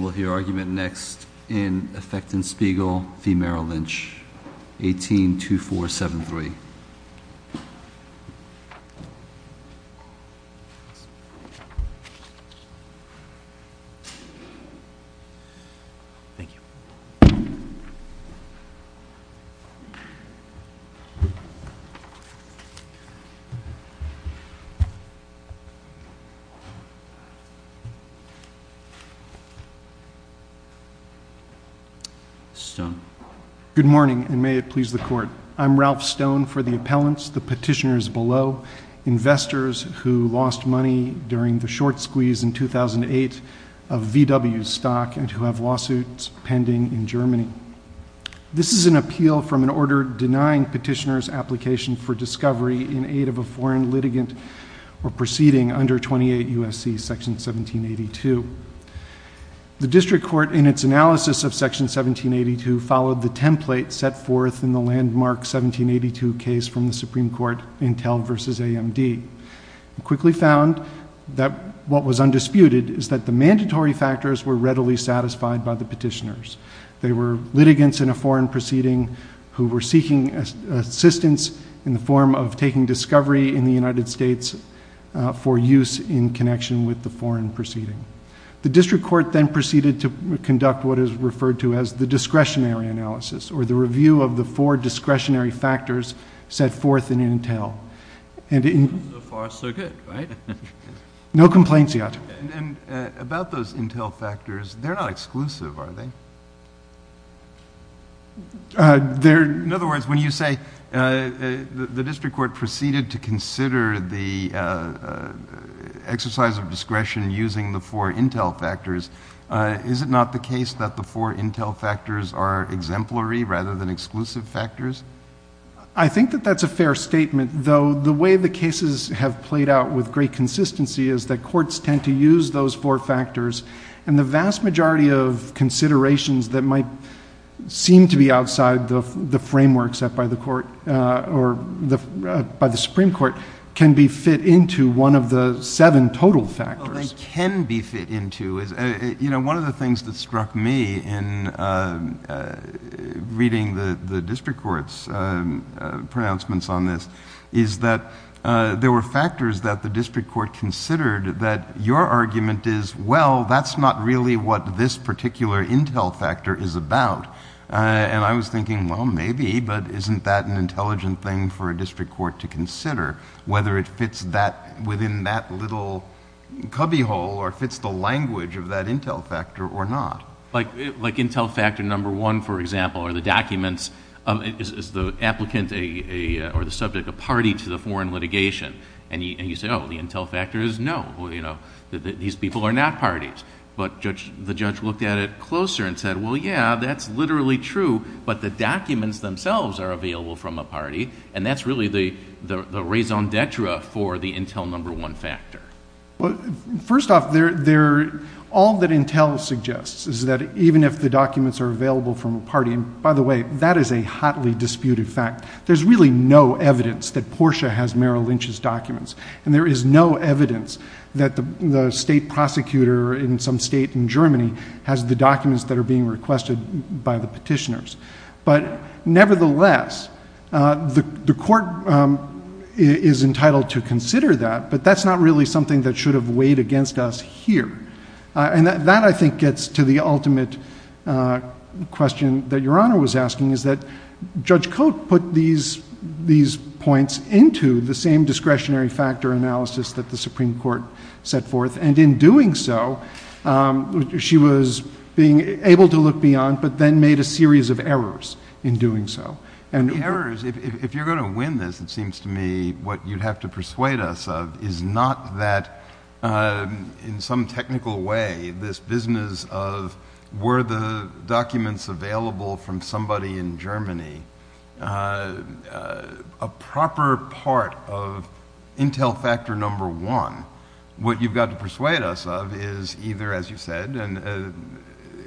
We will hear argument next in Effecten-Spiegel v. Merrill Lynch, 182473. Good morning, and may it please the Court. I am Ralph Stone for the appellants, the petitioners below, investors who lost money during the short squeeze in 2008 of VW's stock and who have lawsuits pending in Germany. This is an appeal from an order denying petitioners application for discovery in aid of a foreign litigant or proceeding under 28 U.S.C. § 1782. The District Court, in its analysis of § 1782, followed the template set forth in the landmark § 1782 case from the Supreme Court, Intel v. AMD, and quickly found that what was undisputed is that the mandatory factors were readily satisfied by the petitioners. They were litigants in a foreign proceeding who were seeking assistance in the form of taking discovery in the United States for use in connection with the foreign proceeding. The District Court then proceeded to conduct what is referred to as the discretionary analysis, or the review of the four discretionary factors set forth in Intel. So far, so good, right? No complaints yet. And about those Intel factors, they're not exclusive, are they? In other words, when you say the District Court proceeded to consider the exercise of discretion using the four Intel factors, is it not the case that the four Intel factors are exemplary rather than exclusive factors? I think that that's a fair statement, though the way the cases have played out with great consistency is that courts tend to use those four factors, and the vast majority of considerations that might seem to be outside the framework set by the Supreme Court can be fit into one of the seven total factors. Well, they can be fit into. One of the things that struck me in reading the District Court's pronouncements on this is that there were factors that the District Court considered that your argument is, well, that's not really what this particular Intel factor is about. And I was thinking, well, maybe, but isn't that an intelligent thing for a District Court to consider, whether it fits within that little cubbyhole, or fits the language of that Intel factor, or not? Like Intel factor number one, for example, are the documents, is the applicant or the subject a party to the foreign litigation? And you say, oh, the Intel factor is no, these people are not parties. But the judge looked at it closer and said, well, yeah, that's literally true, but the documents themselves are available from a party, and that's really the raison d'etre for the Intel number one factor. First off, all that Intel suggests is that even if the documents are available from a party, in fact, there's really no evidence that Portia has Merrill Lynch's documents, and there is no evidence that the state prosecutor in some state in Germany has the documents that are being requested by the petitioners. But nevertheless, the court is entitled to consider that, but that's not really something that should have weighed against us here. And that, I think, gets to the ultimate question that Your Honor was asking, is that Judge Cote put these points into the same discretionary factor analysis that the Supreme Court set forth, and in doing so, she was being able to look beyond, but then made a series of errors in doing so. And the errors, if you're going to win this, it seems to me what you'd have to persuade us of is not that in some technical way, this business of were the documents available from somebody in Germany, a proper part of Intel factor number one, what you've got to persuade us of is either, as you said, and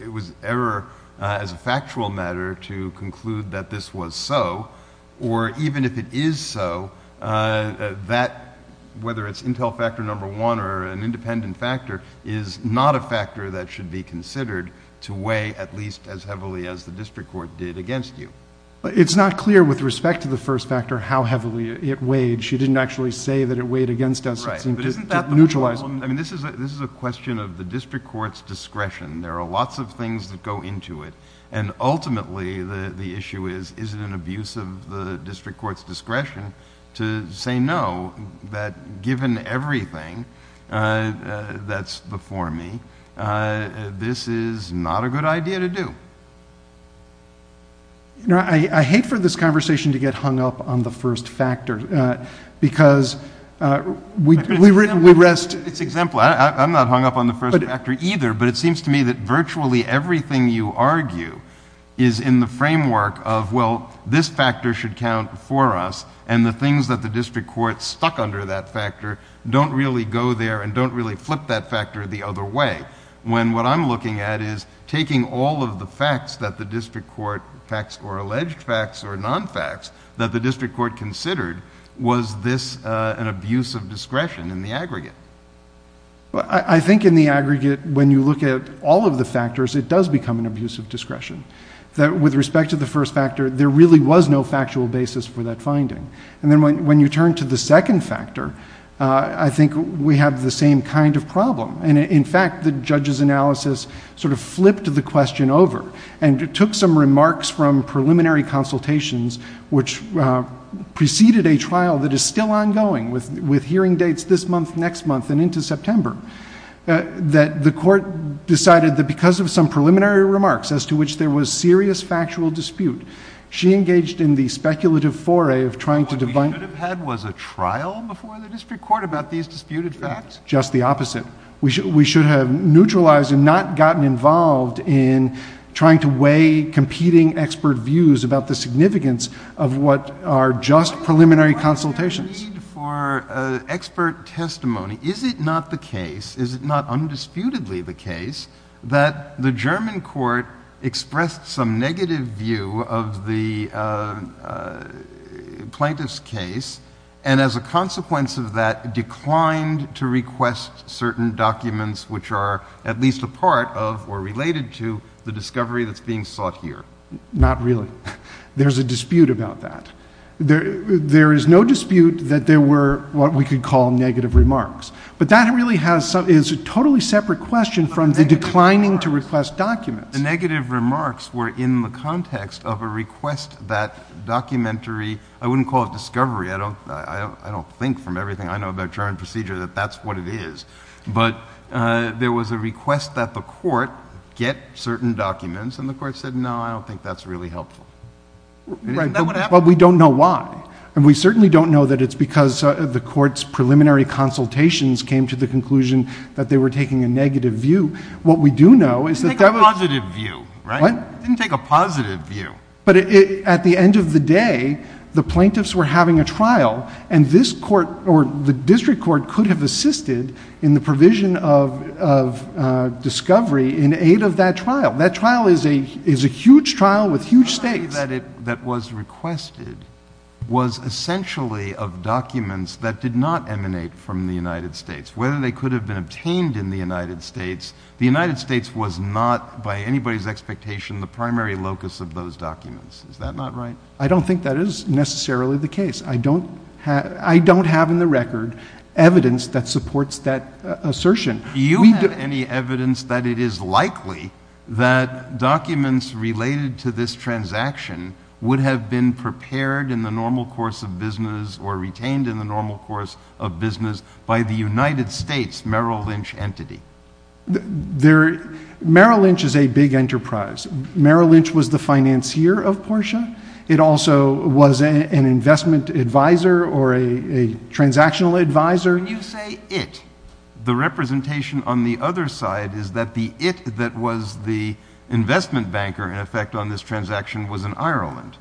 it was error as a factual matter to conclude that this was so, or even if it is so, that whether it's Intel factor number one or an independent factor is not a factor that should be considered to weigh at least as heavily as the district court did against you. It's not clear with respect to the first factor how heavily it weighed. She didn't actually say that it weighed against us. It seemed to neutralize... But isn't that the whole... I mean, this is a question of the district court's discretion. There are lots of things that go into it, and ultimately, the issue is, is it an abuse of the district court's discretion to say no, that given everything that's before me, this is not a good idea to do. I hate for this conversation to get hung up on the first factor because we rest... It's exemplary. I'm not hung up on the first factor either, but it seems to me that virtually everything you argue is in the framework of, well, this factor should count for us, and the things that the district court stuck under that factor don't really go there and don't really flip that factor the other way, when what I'm looking at is taking all of the facts that the district court... facts or alleged facts or non-facts that the district court considered, was this an abuse of discretion in the aggregate? I think in the aggregate, when you look at all of the factors, it does become an abuse of discretion. With respect to the first factor, there really was no factual basis for that kind of problem. In fact, the judge's analysis sort of flipped the question over and took some remarks from preliminary consultations, which preceded a trial that is still ongoing with hearing dates this month, next month, and into September, that the court decided that because of some preliminary remarks as to which there was serious factual dispute, she engaged in the speculative foray of trying to... What we should have had was a trial before the district court about these disputed facts? Just the opposite. We should have neutralized and not gotten involved in trying to weigh competing expert views about the significance of what are just preliminary consultations. What is the need for expert testimony? Is it not the case, is it not undisputedly the case, that the German court expressed some negative view of the plaintiff's case and as a consequence of that declined to request certain documents which are at least a part of or related to the discovery that is being sought here? Not really. There is a dispute about that. There is no dispute that there were what we could call negative remarks. But that really is a totally separate question from the declining to request documents. The negative remarks were in the context of a request that documentary... I wouldn't call it discovery. I don't think from everything I know about German procedure that that's what it is. But there was a request that the court get certain documents and the court said, no, I don't think that's really helpful. Right, but we don't know why. And we certainly don't know that it's because the court's preliminary consultations came to the conclusion that they were taking a negative view. What we do know is that... It didn't take a positive view, right? It didn't take a positive view. But at the end of the day, the plaintiffs were having a trial and this court or the district court could have assisted in the provision of discovery in aid of that trial. That trial is a huge trial with huge stakes. The document that was requested was essentially of documents that did not emanate from the United States. Whether they could have been obtained in the United States, the United States. I don't think that is necessarily the case. I don't have in the record evidence that supports that assertion. Do you have any evidence that it is likely that documents related to this transaction would have been prepared in the normal course of business or retained in the normal course of business by the United States Merrill Lynch entity? Merrill Lynch is a big enterprise. Merrill Lynch was the financier of Porsche. It also was an investment advisor or a transactional advisor. When you say it, the representation on the other side is that the it that was the investment banker in effect on this transaction was in Ireland.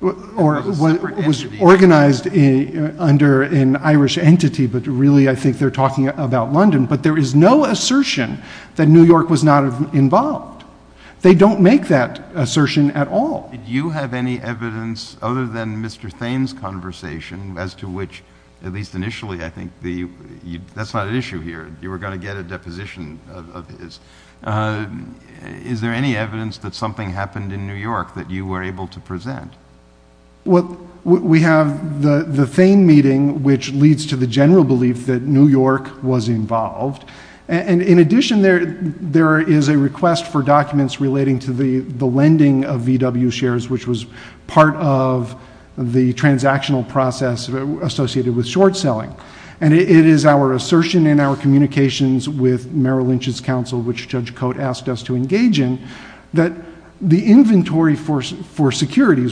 Or was organized under an Irish entity, but really I think they're talking about London. But there is no assertion that New York was not involved. They don't make that assertion at all. You have any evidence other than Mr. Thain's conversation as to which at least initially I think that's not an issue here. You were going to get a deposition of his. Is there any evidence that something happened in New York that you were able to present? Well, we have the Thain meeting, which leads to the general belief that New York was involved. In addition, there is a request for documents relating to the lending of VW shares, which was part of the transactional process associated with short selling. It is our assertion in our communications with Merrill Lynch's counsel, which Judge Securities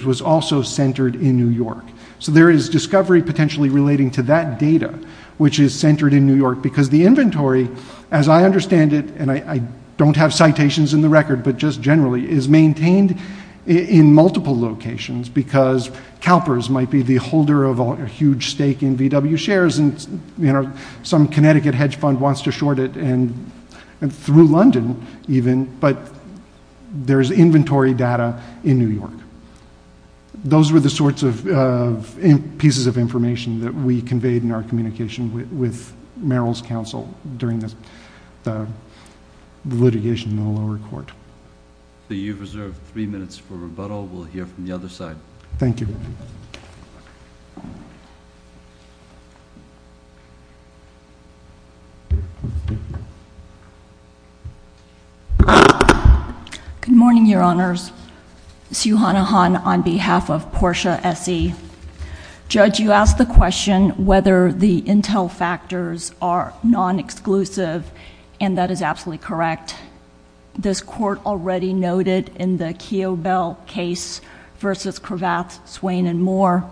was also centered in New York. So there is discovery potentially relating to that data, which is centered in New York because the inventory, as I understand it, and I don't have citations in the record, but just generally, is maintained in multiple locations because CalPERS might be the holder of a huge stake in VW shares and some Connecticut hedge fund wants to short it and through London even, but there's inventory data in New York. Those were the sorts of pieces of information that we conveyed in our communication with Merrill's counsel during the litigation in the lower court. You have reserved three minutes for rebuttal. We'll hear from the other side. Thank you. Good morning, Your Honors. Sue Honohan on behalf of Portia S.E. Judge, you asked the question whether the intel factors are non-exclusive and that is absolutely correct. This Court already noted in the Keogh-Bell case versus Cravath, Swain and Moore,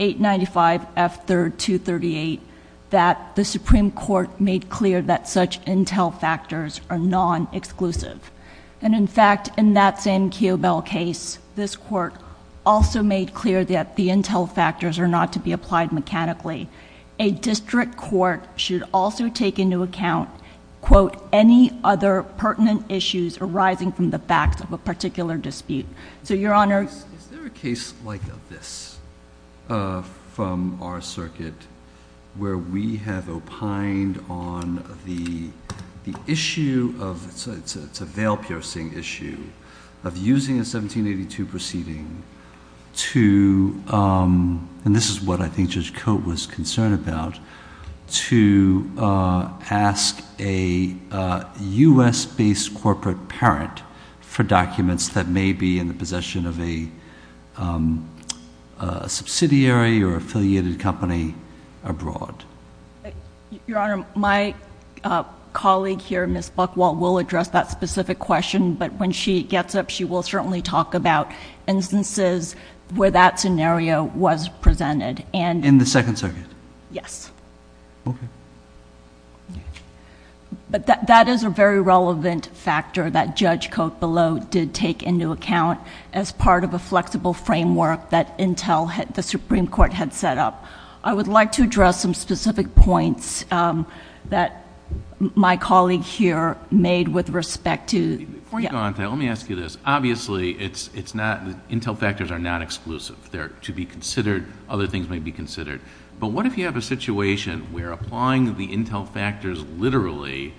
895 F. 3rd 238, that the Supreme Court made clear that such intel factors are non-exclusive. In fact, in that same Keogh-Bell case, this Court also made clear that the intel factors are not to be applied mechanically. A district court should also take into account, quote, any other pertinent issues arising from the facts of a particular dispute. So, Your Honor... Is there a case like this from our circuit where we have opined on the issue of... it's a veil piercing issue of using a 1782 proceeding to... and this is what I think Judge Cote was concerned about... to ask a U.S.-based corporate parent for documents that may be in the possession of a subsidiary or affiliated company abroad? Your Honor, my colleague here, Ms. Buchwald, will address that specific question, but when she gets up, she will certainly talk about instances where that scenario was presented. In the Second Circuit? Yes. Okay. That is a very relevant factor that Judge Cote, below, did take into account as part of a flexible framework that the Supreme Court had set up. I would like to address some specific points that my colleague here made with respect to... Before you go on to that, let me ask you this. Obviously, intel factors are not exclusive. To be considered, other things may be considered, but what if you have a situation where applying the intel factors, literally,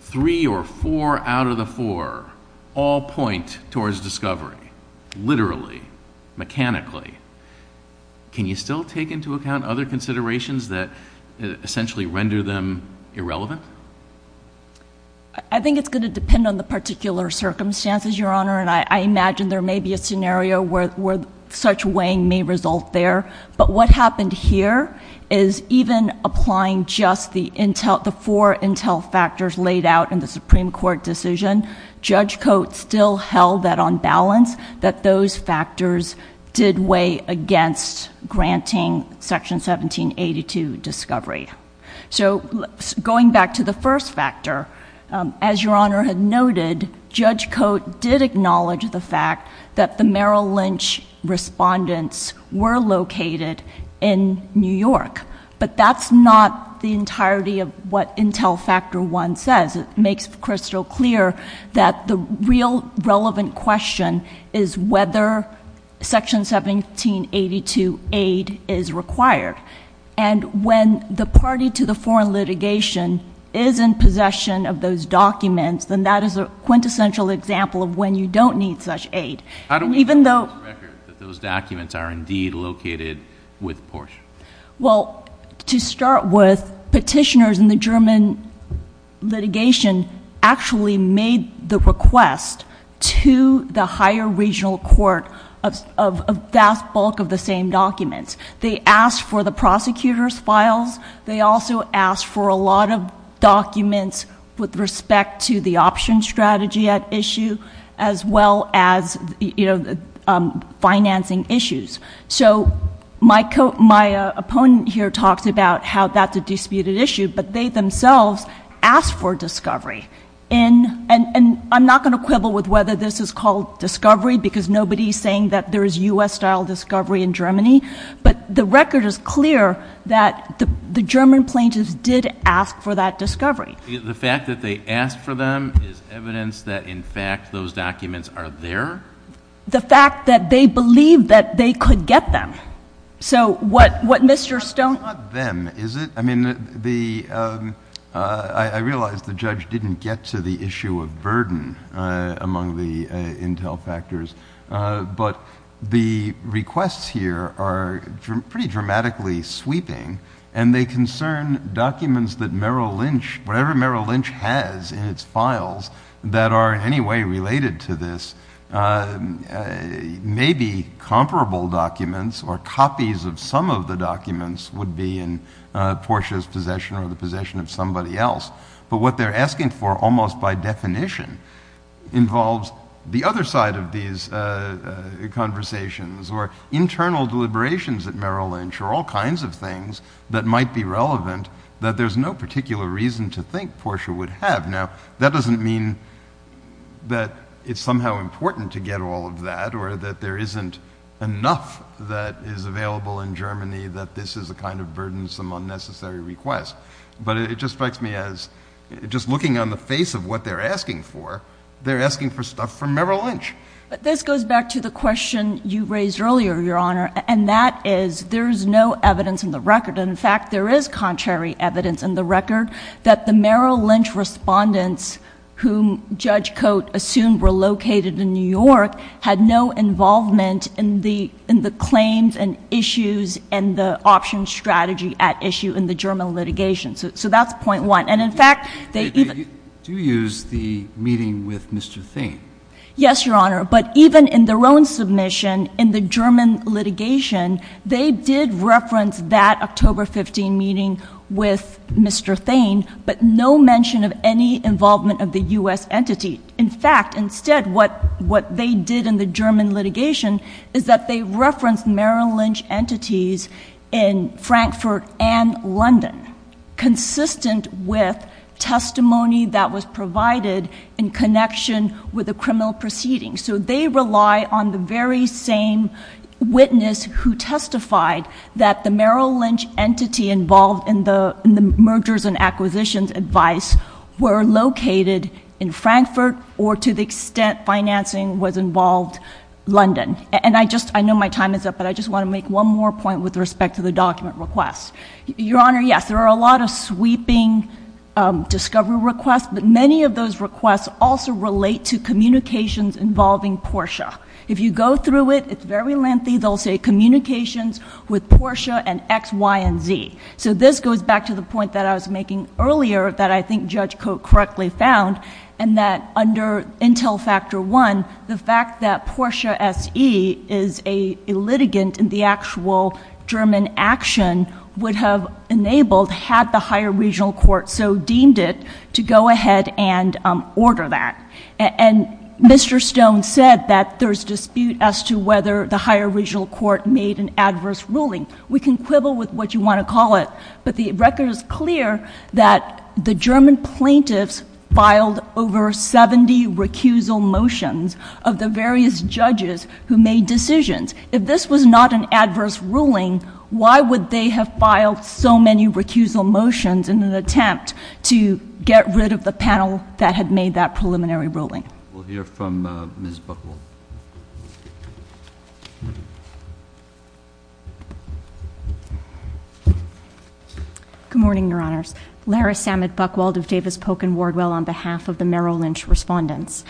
three or four out of the four all point towards discovery, literally, mechanically? Can you still take into account other considerations that essentially render them irrelevant? I think it's going to depend on the particular circumstances, Your Honor, and I imagine there much weighing may result there, but what happened here is even applying just the four intel factors laid out in the Supreme Court decision, Judge Cote still held that on balance that those factors did weigh against granting Section 1782 discovery. Going back to the first factor, as Your Honor had noted, Judge Cote did acknowledge the fact that the Merrill Lynch respondents were located in New York, but that's not the entirety of what Intel Factor 1 says. It makes crystal clear that the real relevant question is whether Section 1782 aid is required, and when the party to the foreign litigation is in possession of those documents, then that is a quintessential example of when you don't need such aid, and even though... How do we have the record that those documents are indeed located with Porsche? Well, to start with, petitioners in the German litigation actually made the request to the higher regional court of a vast bulk of the same documents. They asked for the prosecutor's files. They also asked for a lot of documents with respect to the option strategy at issue, as well as financing issues. So my opponent here talks about how that's a disputed issue, but they themselves asked for discovery, and I'm not going to quibble with whether this is called discovery because nobody is saying that there is U.S.-style discovery in Germany, but the record is clear that the German plaintiffs did ask for that discovery. The fact that they asked for them is evidence that, in fact, those documents are there? The fact that they believed that they could get them. So what Mr. Stone... It's not them, is it? I mean, I realize the judge didn't get to the issue of burden among the Intel Factors, but the requests here are pretty dramatically sweeping, and they concern documents that Merrill Lynch... whatever Merrill Lynch has in its files that are in any way related to this may be comparable documents, or copies of some of the documents would be in Portia's possession or the possession of somebody else. But what they're asking for, almost by definition, involves the other side of these conversations or internal deliberations at Merrill Lynch or all kinds of things that might be relevant that there's no particular reason to think Portia would have. Now, that doesn't mean that it's somehow important to get all of that or that there isn't enough that is available in Germany that this is a kind of burdensome, unnecessary request, but it just strikes me as, just looking on the face of what they're asking for, they're asking for stuff from Merrill Lynch. This goes back to the question you raised earlier, Your Honor, and that is there's no evidence in the record. In fact, there is contrary evidence in the record that the Merrill Lynch respondents whom Judge Cote assumed were located in New York had no involvement in the claims and issues and the option strategy at issue in the German litigation. So that's point one. And, in fact, they even do use the meeting with Mr. Thain. Yes, Your Honor. But even in their own submission in the German litigation, they did reference that October 15 meeting with Mr. Thain, but no mention of any involvement of the U.S. entity. In fact, instead, what they did in the German litigation is that they referenced Merrill Lynch entities in Frankfurt and London, consistent with testimony that was provided in connection with the criminal proceedings. So they rely on the very same witness who testified that the Merrill Lynch entity involved in the mergers and acquisitions advice were located in Frankfurt or to the extent financing was involved, London. And I just — I know my time is up, but I just want to make one more point with respect to the document request. Your Honor, yes, there are a lot of sweeping discovery requests, but many of those requests also relate to communications involving PORSHA. If you go through it, it's very lengthy. They'll say communications with PORSHA and X, Y, and Z. So this goes back to the point that I was making earlier that I think Judge Cote correctly found, and that under Intel Factor I, the fact that PORSHA S.E. is a litigant in the actual German action would have enabled, had the higher regional court so deemed it, to go ahead and order that. And Mr. Stone said that there's dispute as to whether the higher regional court made an adverse ruling. We can quibble with what you want to call it, but the record is clear that the German plaintiffs filed over 70 recusal motions of the various judges who made decisions. If this was not an adverse ruling, why would they have filed so many recusal motions in an attempt to get rid of the panel that had made that preliminary ruling? We'll hear from Ms. Buchwald. Good morning, Your Honors. Lara Samet Buchwald of Davis Polk & Wardwell on behalf of the Merrill Lynch respondents.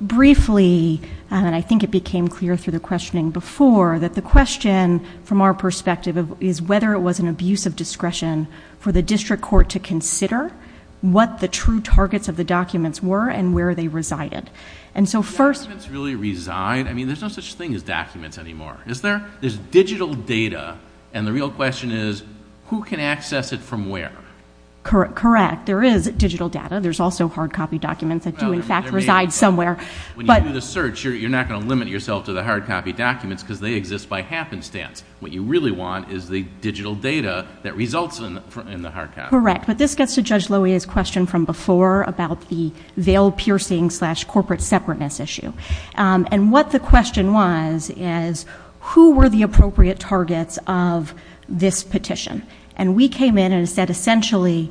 Briefly, and I think it became clear through the questioning before, that the question from our perspective is whether it was an abuse of discretion for the district court to consider what the true targets of the documents were and where they resided. And so first... Do documents really reside? I mean, there's no such thing as documents anymore, is there? There's digital data, and the real question is, who can access it from where? Correct. There is digital data. There's also hard copy documents that do, in fact, reside somewhere. But... When you do the search, you're not going to limit yourself to the hard copy documents because they exist by happenstance. What you really want is the digital data that results in the hard copy. Correct. But this gets to Judge Loewe's question from before about the veil piercing slash corporate separateness issue. And what the question was is, who were the appropriate targets of this petition? And we came in and said, essentially,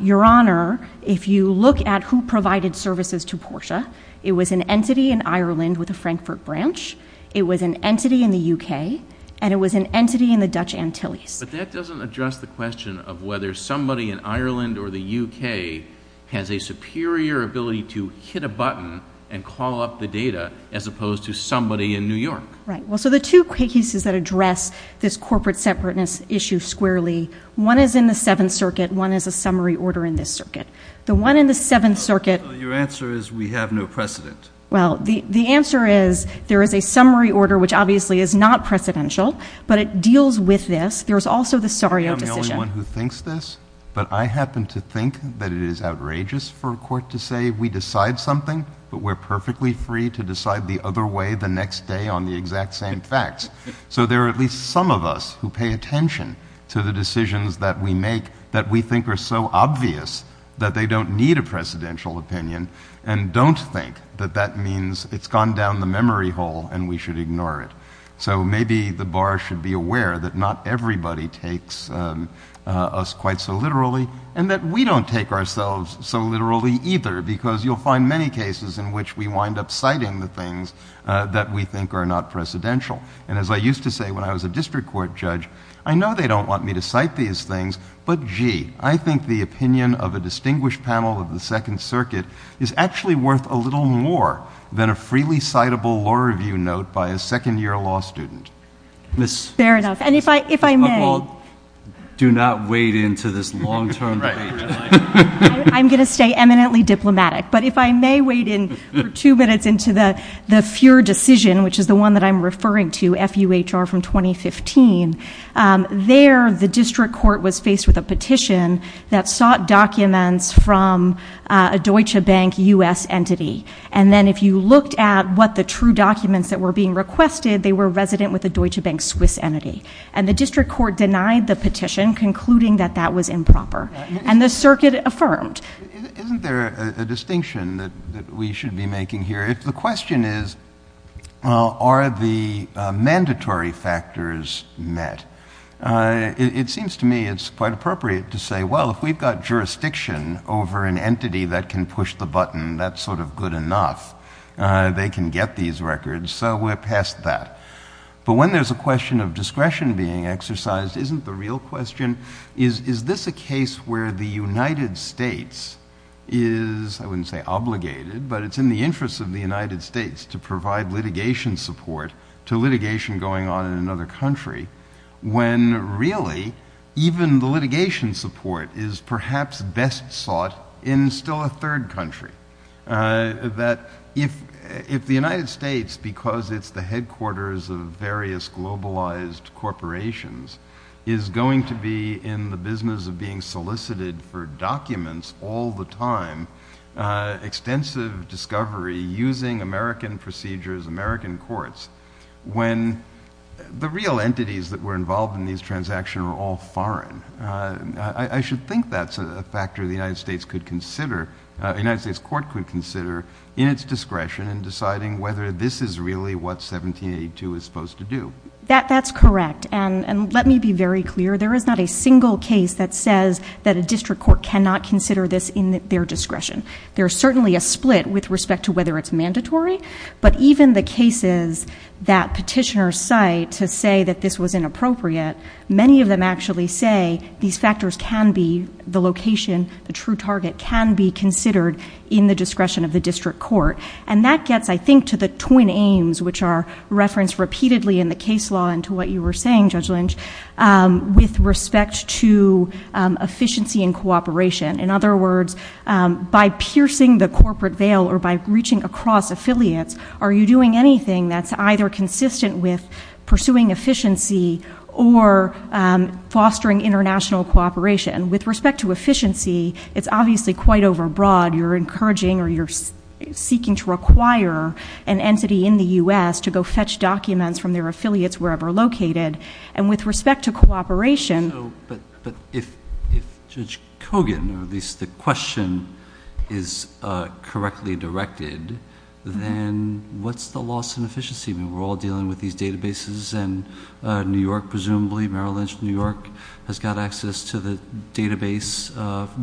Your Honor, if you look at who provided services to Portia, it was an entity in Ireland with a Frankfurt branch, it was an entity in the U.K., and it was an entity in the Dutch Antilles. But that doesn't address the question of whether somebody in Ireland or the U.K. has a superior ability to hit a button and call up the data as opposed to somebody in New York. Right. Well, so the two cases that address this corporate separateness issue squarely, one is in the Seventh Circuit, one is a summary order in this circuit. The one in the Seventh Circuit... Your answer is, we have no precedent. Well, the answer is, there is a summary order, which obviously is not precedential, but it deals with this. There's also the Saria decision. I'm not the only one who thinks this, but I happen to think that it is outrageous for a court to say, we decide something, but we're perfectly free to decide the other way the next day on the exact same facts. So there are at least some of us who pay attention to the decisions that we make that we think are so obvious that they don't need a precedential opinion and don't think that that means it's gone down the memory hole and we should ignore it. So maybe the bar should be aware that not everybody takes us quite so literally and that we don't take ourselves so literally either, because you'll find many cases in which we wind up citing the things that we think are not precedential. And as I used to say when I was a district court judge, I know they don't want me to cite these things, but gee, I think the opinion of a distinguished panel of the Second Circuit is actually worth a little more than a freely citable law review note by a second year law student. Fair enough. And if I may, do not wade into this long-term debate. I'm going to stay eminently diplomatic. But if I may wade in for two minutes into the FUHR decision, which is the one that I'm referring to, F-U-H-R from 2015, there the district court was faced with a petition that a Deutsche Bank U.S. entity. And then if you looked at what the true documents that were being requested, they were resident with a Deutsche Bank Swiss entity. And the district court denied the petition, concluding that that was improper. And the circuit affirmed. Isn't there a distinction that we should be making here? The question is, are the mandatory factors met? It seems to me it's quite appropriate to say, well, if we've got jurisdiction over an entity that can push the button, that's sort of good enough. They can get these records. So we're past that. But when there's a question of discretion being exercised, isn't the real question, is this a case where the United States is, I wouldn't say obligated, but it's in the interest of the United States to provide litigation support to litigation going on in another country when really even the litigation support is perhaps best sought in still a third country? That if the United States, because it's the headquarters of various globalized corporations, is going to be in the business of being solicited for documents all the time, extensive discovery using American procedures, American courts, when the real entities that were involved in these transactions were all foreign. I should think that's a factor the United States could consider, the United States court could consider in its discretion in deciding whether this is really what 1782 is supposed to do. That's correct. And let me be very clear. There is not a single case that says that a district court cannot consider this in their discretion. There's certainly a split with respect to whether it's mandatory, but even the cases that petitioners cite to say that this was inappropriate, many of them actually say these factors can be the location, the true target can be considered in the discretion of the district court. And that gets, I think, to the twin aims which are referenced repeatedly in the case law and to what you were saying, Judge Lynch, with respect to efficiency and cooperation. In other words, by piercing the corporate veil or by reaching across affiliates, are you doing anything that's either consistent with pursuing efficiency or fostering international cooperation? With respect to efficiency, it's obviously quite overbroad. You're encouraging or you're seeking to require an entity in the U.S. to go fetch documents from their affiliates wherever located. And with respect to cooperation- So, but if Judge Kogan, or at least the question, is correctly directed, then what's the loss in efficiency? I mean, we're all dealing with these databases and New York, presumably, Merrill Lynch, New York has got access to the database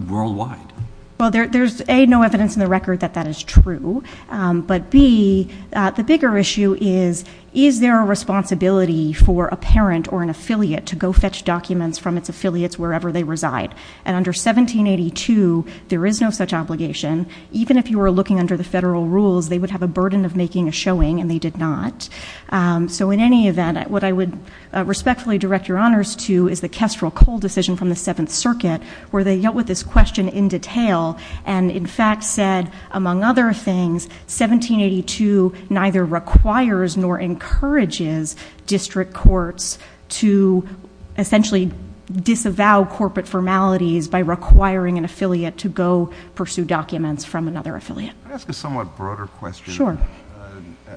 worldwide. Well, there's A, no evidence in the record that that is true. But B, the bigger issue is, is there a responsibility for a parent or an affiliate to go fetch documents from its affiliates wherever they reside? And under 1782, there is no such obligation. Even if you were looking under the federal rules, they would have a burden of making a showing and they did not. So in any event, what I would respectfully direct your honors to is the Kestrel-Cole decision from the Seventh Circuit, where they dealt with this question in detail and in fact said, among other things, 1782 neither requires nor encourages district courts to essentially disavow corporate formalities by requiring an affiliate to go pursue documents from another affiliate. Can I ask a somewhat broader question? Sure.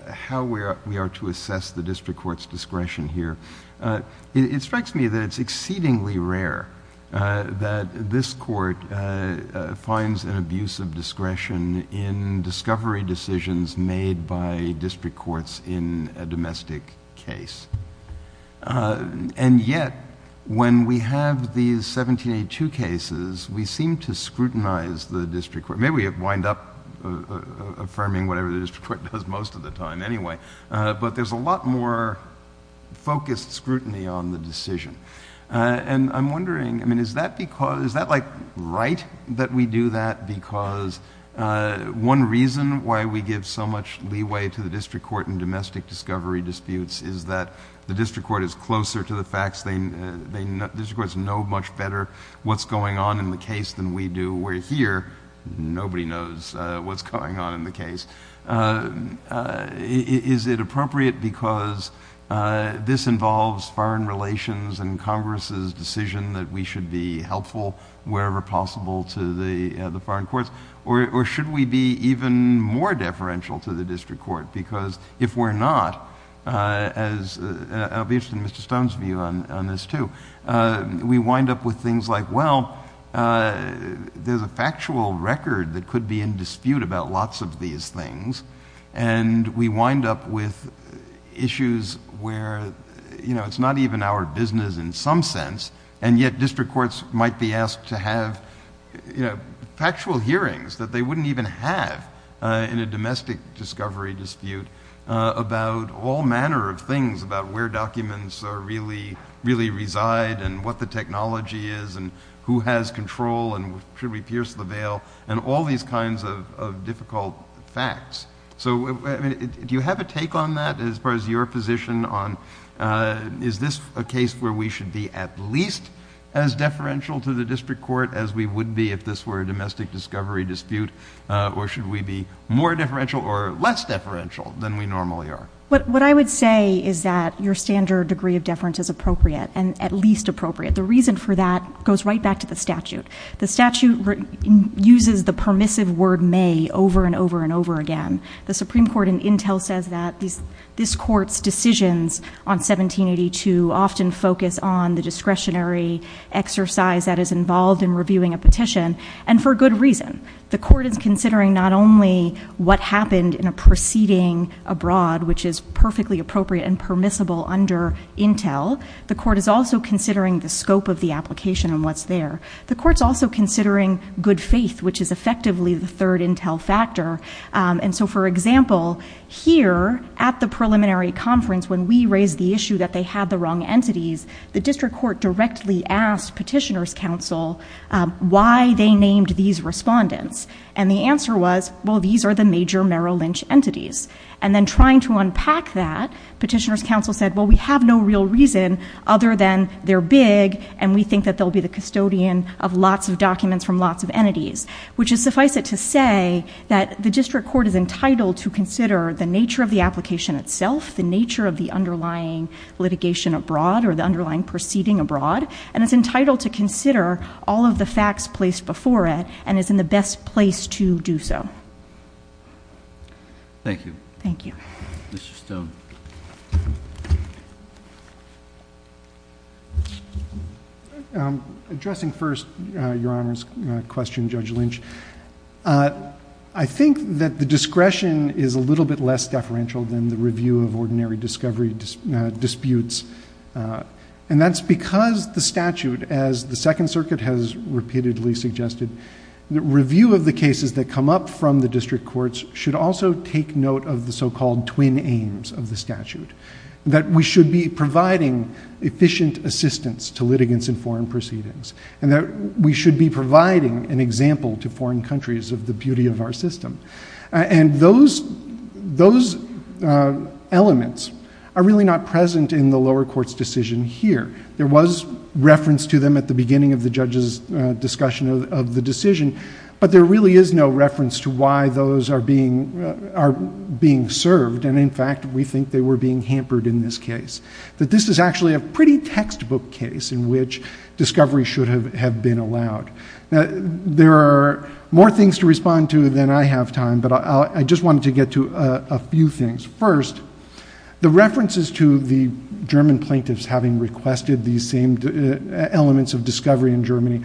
How we are to assess the district court's discretion here. It strikes me that it's exceedingly rare that this court finds an abuse of discretion in discovery decisions made by district courts in a domestic case. And yet, when we have these 1782 cases, we seem to scrutinize the district court. Maybe we wind up affirming whatever the district court does most of the time anyway. But there's a lot more focused scrutiny on the decision. And I'm wondering, I mean, is that like right that we do that because one reason why we the district court is closer to the facts, the district courts know much better what's going on in the case than we do where here, nobody knows what's going on in the case. Is it appropriate because this involves foreign relations and Congress's decision that we should be helpful wherever possible to the foreign courts, or should we be even more I'll be interested in Mr. Stone's view on this too. We wind up with things like, well, there's a factual record that could be in dispute about lots of these things, and we wind up with issues where it's not even our business in some sense, and yet district courts might be asked to have factual hearings that they really reside, and what the technology is, and who has control, and should we pierce the veil, and all these kinds of difficult facts. So do you have a take on that as far as your position on is this a case where we should be at least as deferential to the district court as we would be if this were a domestic discovery dispute, or should we be more deferential or less deferential than we normally are? What I would say is that your standard degree of deference is appropriate, and at least appropriate. The reason for that goes right back to the statute. The statute uses the permissive word may over and over and over again. The Supreme Court in Intel says that this court's decisions on 1782 often focus on the discretionary exercise that is involved in reviewing a petition, and for good reason. The court is considering not only what happened in a proceeding abroad, which is perfectly appropriate and permissible under Intel. The court is also considering the scope of the application and what's there. The court's also considering good faith, which is effectively the third Intel factor. And so, for example, here at the preliminary conference when we raised the issue that they had the wrong entities, the district court directly asked petitioner's counsel why they named these respondents. And the answer was, well, these are the major Merrill Lynch entities. And then trying to unpack that, petitioner's counsel said, well, we have no real reason other than they're big and we think that they'll be the custodian of lots of documents from lots of entities, which is suffice it to say that the district court is entitled to consider the nature of the application itself, the nature of the underlying litigation abroad or the underlying proceeding abroad, and it's entitled to consider all of the facts placed before it and is in the best place to do so. Thank you. Thank you. Mr. Stone. Addressing first Your Honor's question, Judge Lynch, I think that the discretion is a little bit less deferential than the review of ordinary discovery disputes. And that's because the statute, as the Second Circuit has repeatedly suggested, the review of the cases that come up from the district courts should also take note of the so-called twin aims of the statute, that we should be providing efficient assistance to litigants in foreign proceedings and that we should be providing an example to foreign countries of the beauty of our system. And those elements are really not present in the lower court's decision here. There was reference to them at the beginning of the judge's discussion of the decision, but there really is no reference to why those are being served and, in fact, we think they were being hampered in this case, that this is actually a pretty textbook case in which discovery should have been allowed. Now, there are more things to respond to than I have time, but I just wanted to get to a few things. First, the references to the German plaintiffs having requested these same elements of discovery in Germany,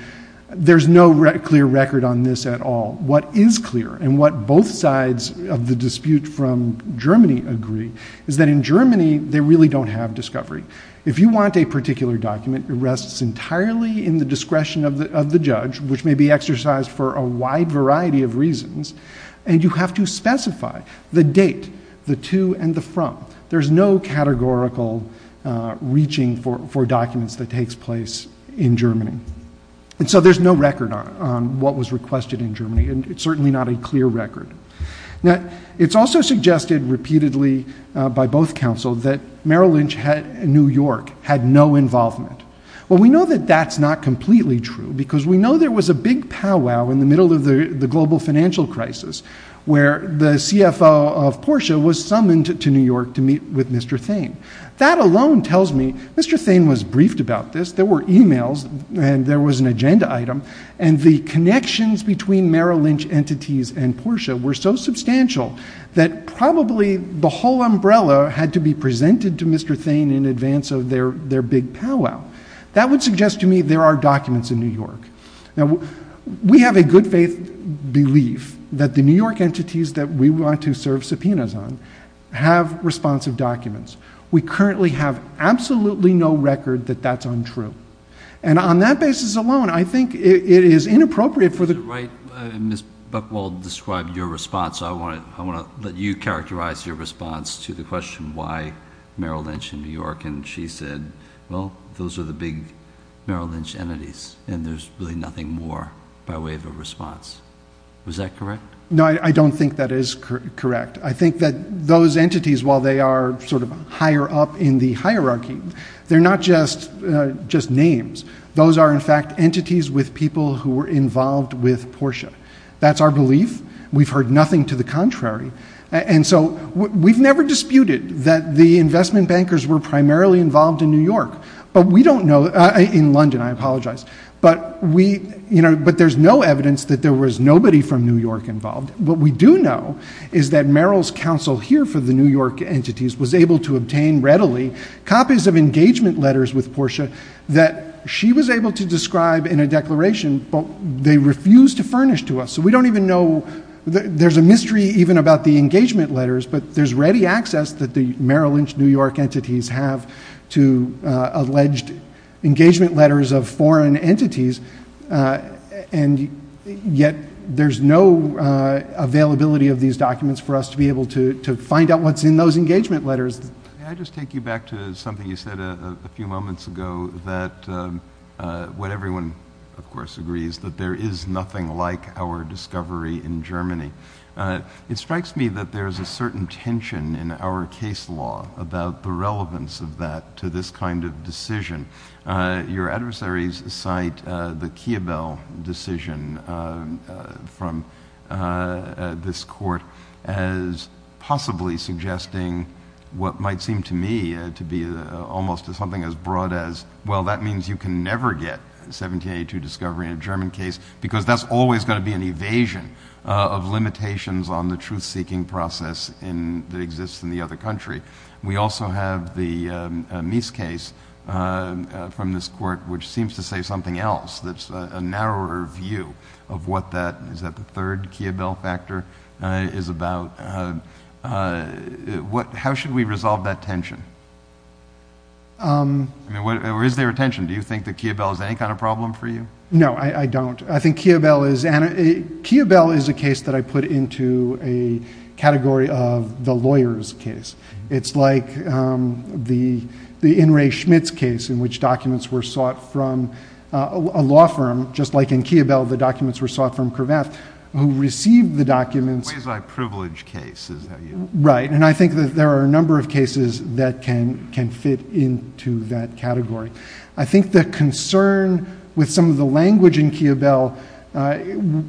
there's no clear record on this at all. What is clear and what both sides of the dispute from Germany agree is that in Germany they really don't have discovery. If you want a particular document, it rests entirely in the discretion of the judge, which may be exercised for a wide variety of reasons, and you have to specify the date, the to and the from. There's no categorical reaching for documents that takes place in Germany. And so there's no record on what was requested in Germany and it's certainly not a clear record. Now, it's also suggested repeatedly by both counsel that Merrill Lynch and New York had no involvement. Well, we know that that's not completely true because we know there was a big powwow in the middle of the global financial crisis where the CFO of Porsche was summoned to New York to meet with Mr. Thain. That alone tells me Mr. Thain was briefed about this, there were emails and there was an agenda item, and the connections between Merrill Lynch entities and Porsche were so substantial that probably the whole umbrella had to be presented to Mr. Thain in advance of their big powwow. That would suggest to me there are documents in New York. Now, we have a good faith belief that the New York entities that we want to serve subpoenas on have responsive documents. We currently have absolutely no record that that's untrue. And on that basis alone, I think it is inappropriate for the- Is it right, Ms. Buchwald described your response, I want to let you characterize your response to the question why Merrill Lynch in New York and she said, well, those are the big Merrill Lynch entities and there's really nothing more by way of a response. Was that correct? No, I don't think that is correct. I think that those entities, while they are sort of higher up in the hierarchy, they're not just names. Those are, in fact, entities with people who were involved with Porsche. That's our belief. We've heard nothing to the contrary. And so we've never disputed that the investment bankers were primarily involved in New York, but we don't know, in London, I apologize, but there's no evidence that there was nobody from New York involved. What we do know is that Merrill's counsel here for the New York entities was able to that she was able to describe in a declaration, but they refused to furnish to us. So we don't even know, there's a mystery even about the engagement letters, but there's ready access that the Merrill Lynch New York entities have to alleged engagement letters of foreign entities. And yet there's no availability of these documents for us to be able to find out what's in those engagement letters. May I just take you back to something you said a few moments ago that, what everyone of course agrees, that there is nothing like our discovery in Germany. It strikes me that there's a certain tension in our case law about the relevance of that to this kind of decision. Your adversaries cite the Kiebel decision from this court as possibly suggesting what might seem to me to be almost something as broad as, well, that means you can never get 1782 discovery in a German case because that's always going to be an evasion of limitations on the truth-seeking process that exists in the other country. We also have the Mies case from this court, which seems to say something else that's a narrower view of what that, is that the third Kiebel factor is about? How should we resolve that tension? I mean, or is there a tension? Do you think that Kiebel is any kind of problem for you? No, I don't. I think Kiebel is a case that I put into a category of the lawyer's case. It's like the In re Schmitz case in which documents were sought from a law firm. Just like in Kiebel, the documents were sought from Kravath, who received the documents- A quasi-privileged case, is how you- Right. And I think that there are a number of cases that can fit into that category. I think the concern with some of the language in Kiebel,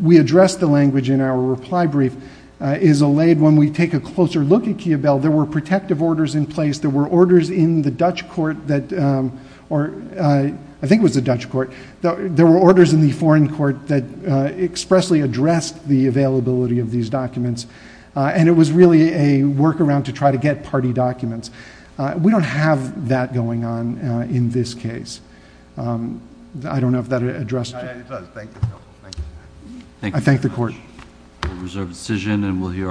we addressed the language in our reply brief, is allayed when we take a closer look at Kiebel. There were protective orders in place. There were orders in the Dutch court that, or I think it was the Dutch court. There were orders in the foreign court that expressly addressed the availability of these documents. And it was really a workaround to try to get party documents. We don't have that going on in this case. I don't know if that addressed- It does. Thank you, counsel. Thank you. Thank you very much. I thank the court.